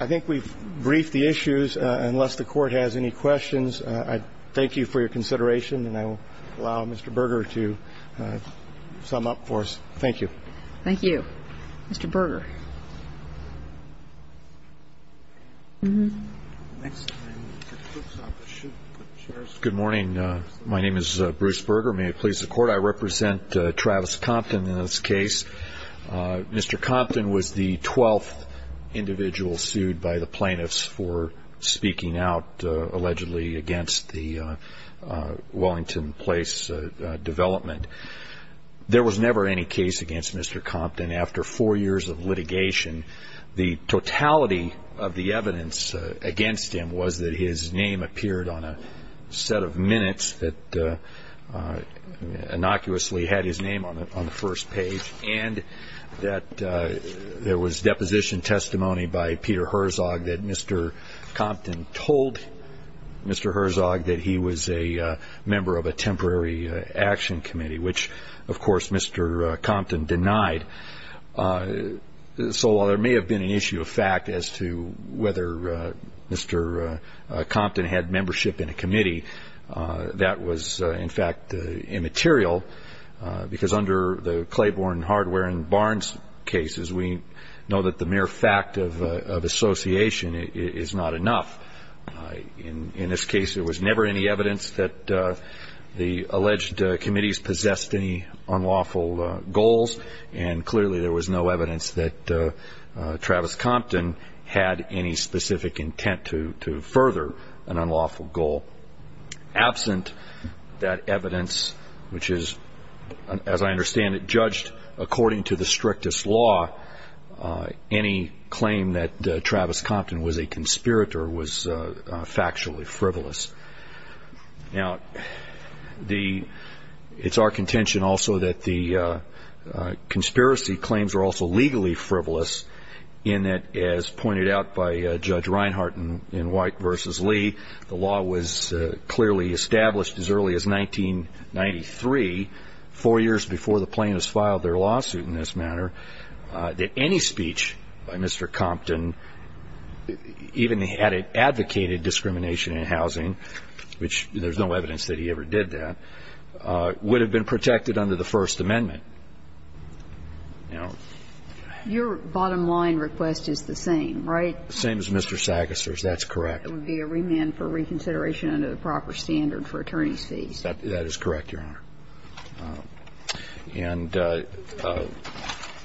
I think we've briefed the issues. Unless the court has any questions, I thank you for your consideration. And I will allow Mr. Berger to sum up for us. Thank you. Thank you. Mr. Berger. Next. Good morning. My name is Bruce Berger. May it please the Court. I represent Travis Compton in this case. Mr. Compton was the 12th individual sued by the plaintiffs for speaking out allegedly against the Wellington Place development. The totality of the evidence against him was that his name appeared on a set of minutes that innocuously had his name on the first page and that there was deposition testimony by Peter Herzog that Mr. Compton told Mr. Herzog that he was a member of a temporary action committee, which, of course, Mr. Compton denied. So while there may have been an issue of fact as to whether Mr. Compton had membership in a committee, that was, in fact, immaterial because under the Claiborne, Hardware, and Barnes cases, we know that the mere fact of association is not enough. In this case, there was never any evidence that the alleged committees possessed any unlawful goals and clearly there was no evidence that Travis Compton had any specific intent to further an unlawful goal. Absent that evidence, which is, as I understand it, judged according to the strictest law, any claim that Travis Compton was a conspirator was factually frivolous. Now, it's our contention also that the conspiracy claims are also legally frivolous in that, as pointed out by Judge Reinhart in White v. Lee, the law was clearly established as early as 1993, four years before the plaintiffs filed their lawsuit in this matter, that any speech by Mr. Compton, even he had advocated discrimination in housing, which there's no evidence that he ever did that, would have been protected under the First Amendment. Now... Your bottom line request is the same, right? Same as Mr. Sackester's, that's correct. It would be a remand for reconsideration under the proper standard for attorney's fees. That is correct, Your Honor. And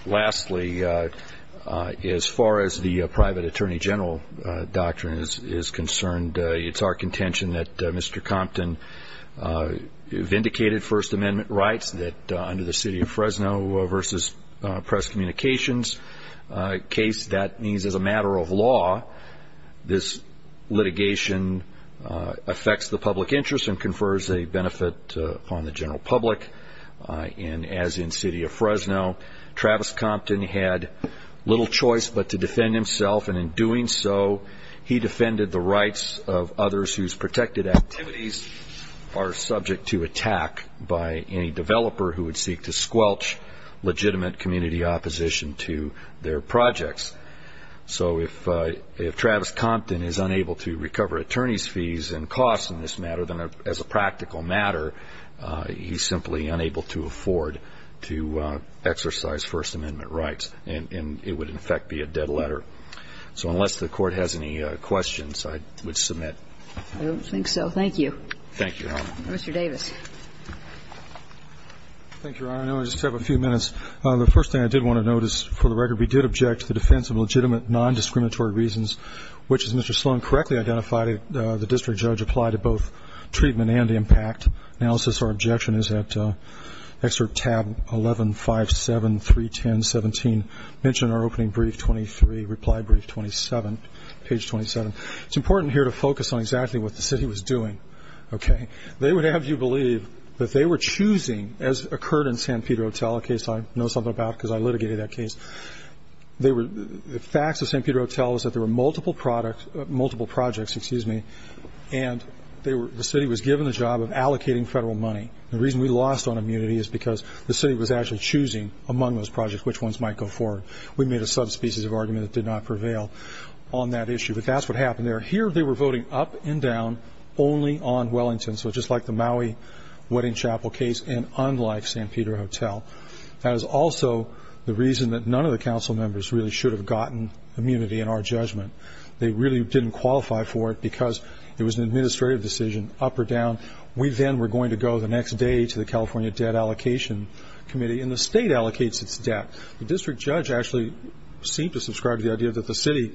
lastly, as far as the private attorney general doctrine is concerned, it's our contention that Mr. Compton vindicated First Amendment rights under the City of Fresno v. Press Communications case. That means, as a matter of law, this litigation affects the public interest and the litigation confers a benefit upon the general public, and as in City of Fresno, Travis Compton had little choice but to defend himself, and in doing so, he defended the rights of others whose protected activities are subject to attack by any developer who would seek to squelch legitimate community opposition to their projects. So if Travis Compton is unable to recover attorney's fees and costs in this matter, then as a practical matter, he's simply unable to afford to exercise First Amendment rights, and it would, in effect, be a dead letter. So unless the Court has any questions, I would submit. I don't think so. Thank you. Thank you, Your Honor. Mr. Davis. Thank you, Your Honor. I know I just have a few minutes. The first thing I did want to note is, for the record, we did object to the defense of legitimate non-discriminatory reasons, which, as Mr. Sloan correctly identified, the district judge applied to both treatment and impact analysis. Our objection is at excerpt tab 115731017, mentioned in our opening brief 23, reply brief 27, page 27. It's important here to focus on exactly what the city was doing. They would have you believe that they were choosing, as occurred in San Pedro Hotel, a case I know something about because I litigated that case. The facts of San Pedro Hotel is that there were multiple projects and the city was given the job of allocating federal money. The reason we lost on immunity is because the city was actually choosing among those projects which ones might go forward. We made a subspecies of argument that did not prevail on that issue, but that's what happened there. Here they were voting up and down only on Wellington, so just like the Maui Wedding Chapel case, and unlike San Pedro Hotel. That is also the reason that none of the council members really should have gotten immunity in our judgment. They really didn't qualify for it because it was an administrative decision, up or down. We then were going to go the next day to the California Debt Allocation Committee and the state allocates its debt. The district judge actually seemed to subscribe to the idea that the city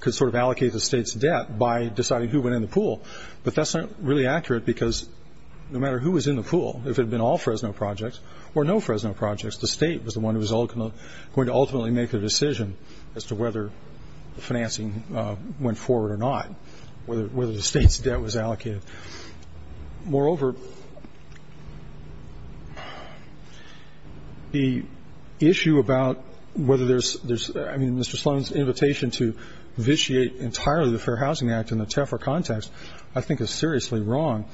could allocate the state's debt by deciding who went in the pool, but that's not really accurate because no matter who was in the pool, if it had been all Fresno projects or no Fresno projects, the state was the one who was going to ultimately make the decision as to whether the financing went forward or not, whether the state's debt was allocated. Moreover, the issue about whether there's... I mean, Mr. Sloan's invitation to vitiate entirely the Fair Housing Act in the TEFRA context, I think is seriously wrong.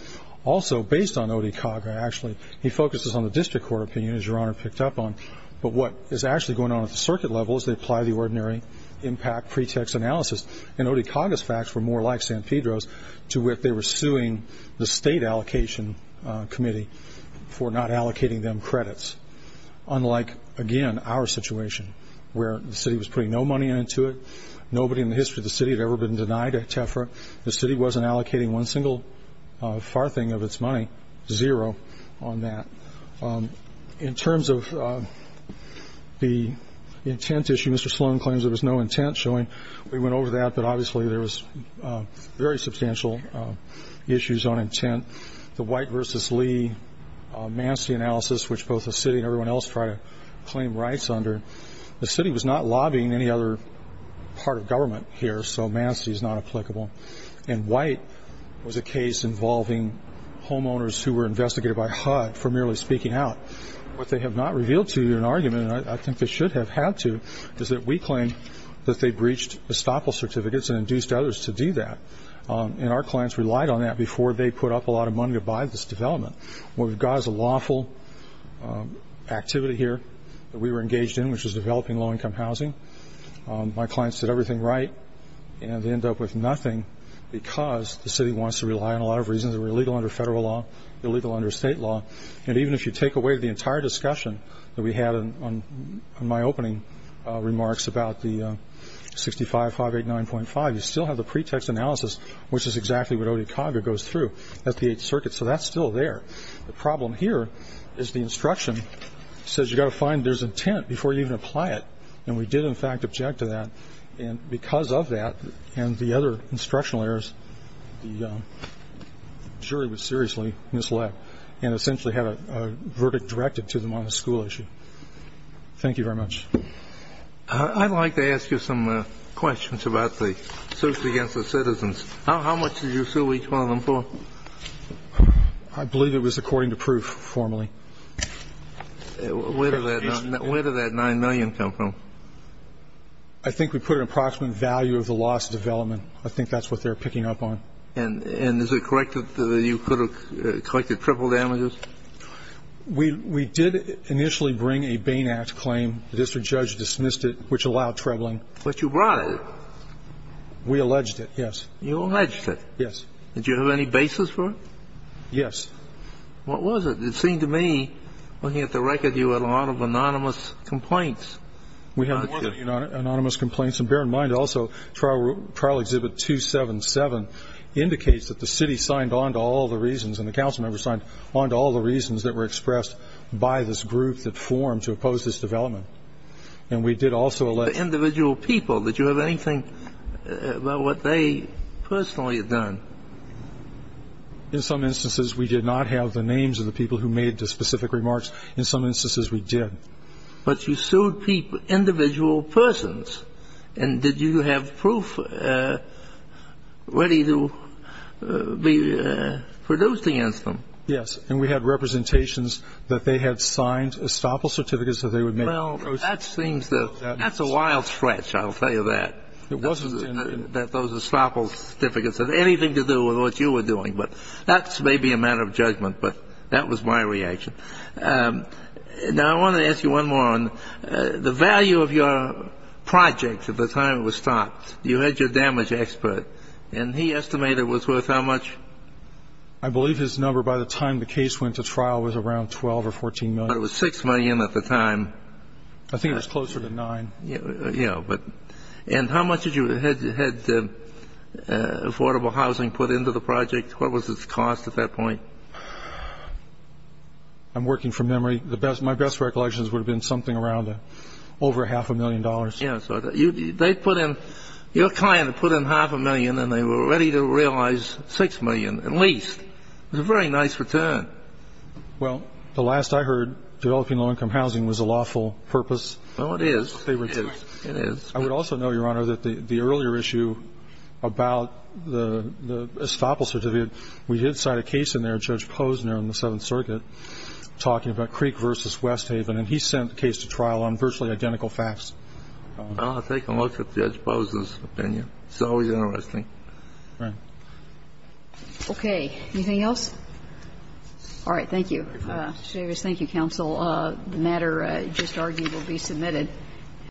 Also, based on Odekaga, actually, he focuses on the district court opinion, as Your Honor picked up on, but what is actually going on at the circuit level is they apply the ordinary impact pretext analysis and Odekaga's facts were more like San Pedro's to which they were suing the state allocation committee for not allocating them credits, unlike, again, our situation where the city was putting no money into it, nobody in the history of the city had ever been denied a TEFRA, the city wasn't allocating one single farthing of its money, zero on that. In terms of the intent issue, Mr. Sloan claims there was no intent, showing we went over that, but obviously there was very substantial issues on intent. The White v. Lee mancity analysis, which both the city and everyone else tried to claim rights under, the city was not lobbying any other part of government here, so mancity is not applicable. And White was a case involving homeowners who were investigated by HUD for merely speaking out. What they have not revealed to you in an argument, and I think they should have had to, is that we claim that they breached estoppel certificates and induced others to do that, and our clients relied on that before they put up a lot of money to buy this development. What we've got is a lawful activity here that we were engaged in, which was developing low-income housing. My clients did everything right, and they end up with nothing because the city wants to rely on a lot of reasons that we're illegal under federal law, illegal under state law. And even if you take away the entire discussion that we had on my opening remarks about the 65-589.5, you still have the pretext analysis, which is exactly what Odekaga goes through at the 8th Circuit, so that's still there. The problem here is the instruction says you've got to find there's intent before you even apply it, and we did in fact object to that, and because of that and the other instructional errors, the jury was seriously misled and essentially had a verdict directed to them on a school issue. Thank you very much. I'd like to ask you some questions about the suits against the citizens. How much did you sue each one of them for? I believe it was according to proof formally. Where did that $9 million come from? I think we put an approximate value of the loss of development. I think that's what they're picking up on. And is it correct that you could have collected triple damages? We did initially bring a Bain Act claim. The district judge dismissed it, which allowed trebling. But you brought it. We alleged it, yes. You alleged it. Yes. Did you have any basis for it? Yes. What was it? It seemed to me, looking at the record, you had a lot of anonymous complaints. We had a lot of anonymous complaints, and bear in mind also Trial Exhibit 277 that you personally had done. In some instances, we did not have the names of the people who made the specific remarks. In some instances, we did. But you sued individual persons. And did you have proof ready to be produced against them? Yes. And we had representations that they had signed estoppel certificates that they would make. Well, that's a wild stretch, I'll tell you that, that those estoppel certificates had anything to do with what you were doing. That may be a matter of judgment, but that was my reaction. Now, I want to ask you one more. The value of your project at the time it was stopped, you had your damage expert, and he estimated it was worth how much? I believe his number by the time the case went to trial was around $12 or $14 million. But it was $6 million at the time. I think it was closer to $9. And how much had Affordable Housing put into the project? What was its cost at that point? I'm working from memory. My best recollection would have been something around over half a million dollars. Your client put in half a million, and they were ready to realize $6 million, at least. It was a very nice return. Well, the last I heard, developing low-income housing was a lawful purpose. Oh, it is. I would also know, Your Honor, that the earlier issue about the estoppel certificate, we did cite a case in there of Judge Posner on the Seventh Circuit talking about Creek v. Westhaven, and he sent the case to trial on virtually identical facts. I'll take a look at Judge Posner's opinion. It's always interesting. Okay. Anything else? All right. Thank you. The matter just argued will be submitted.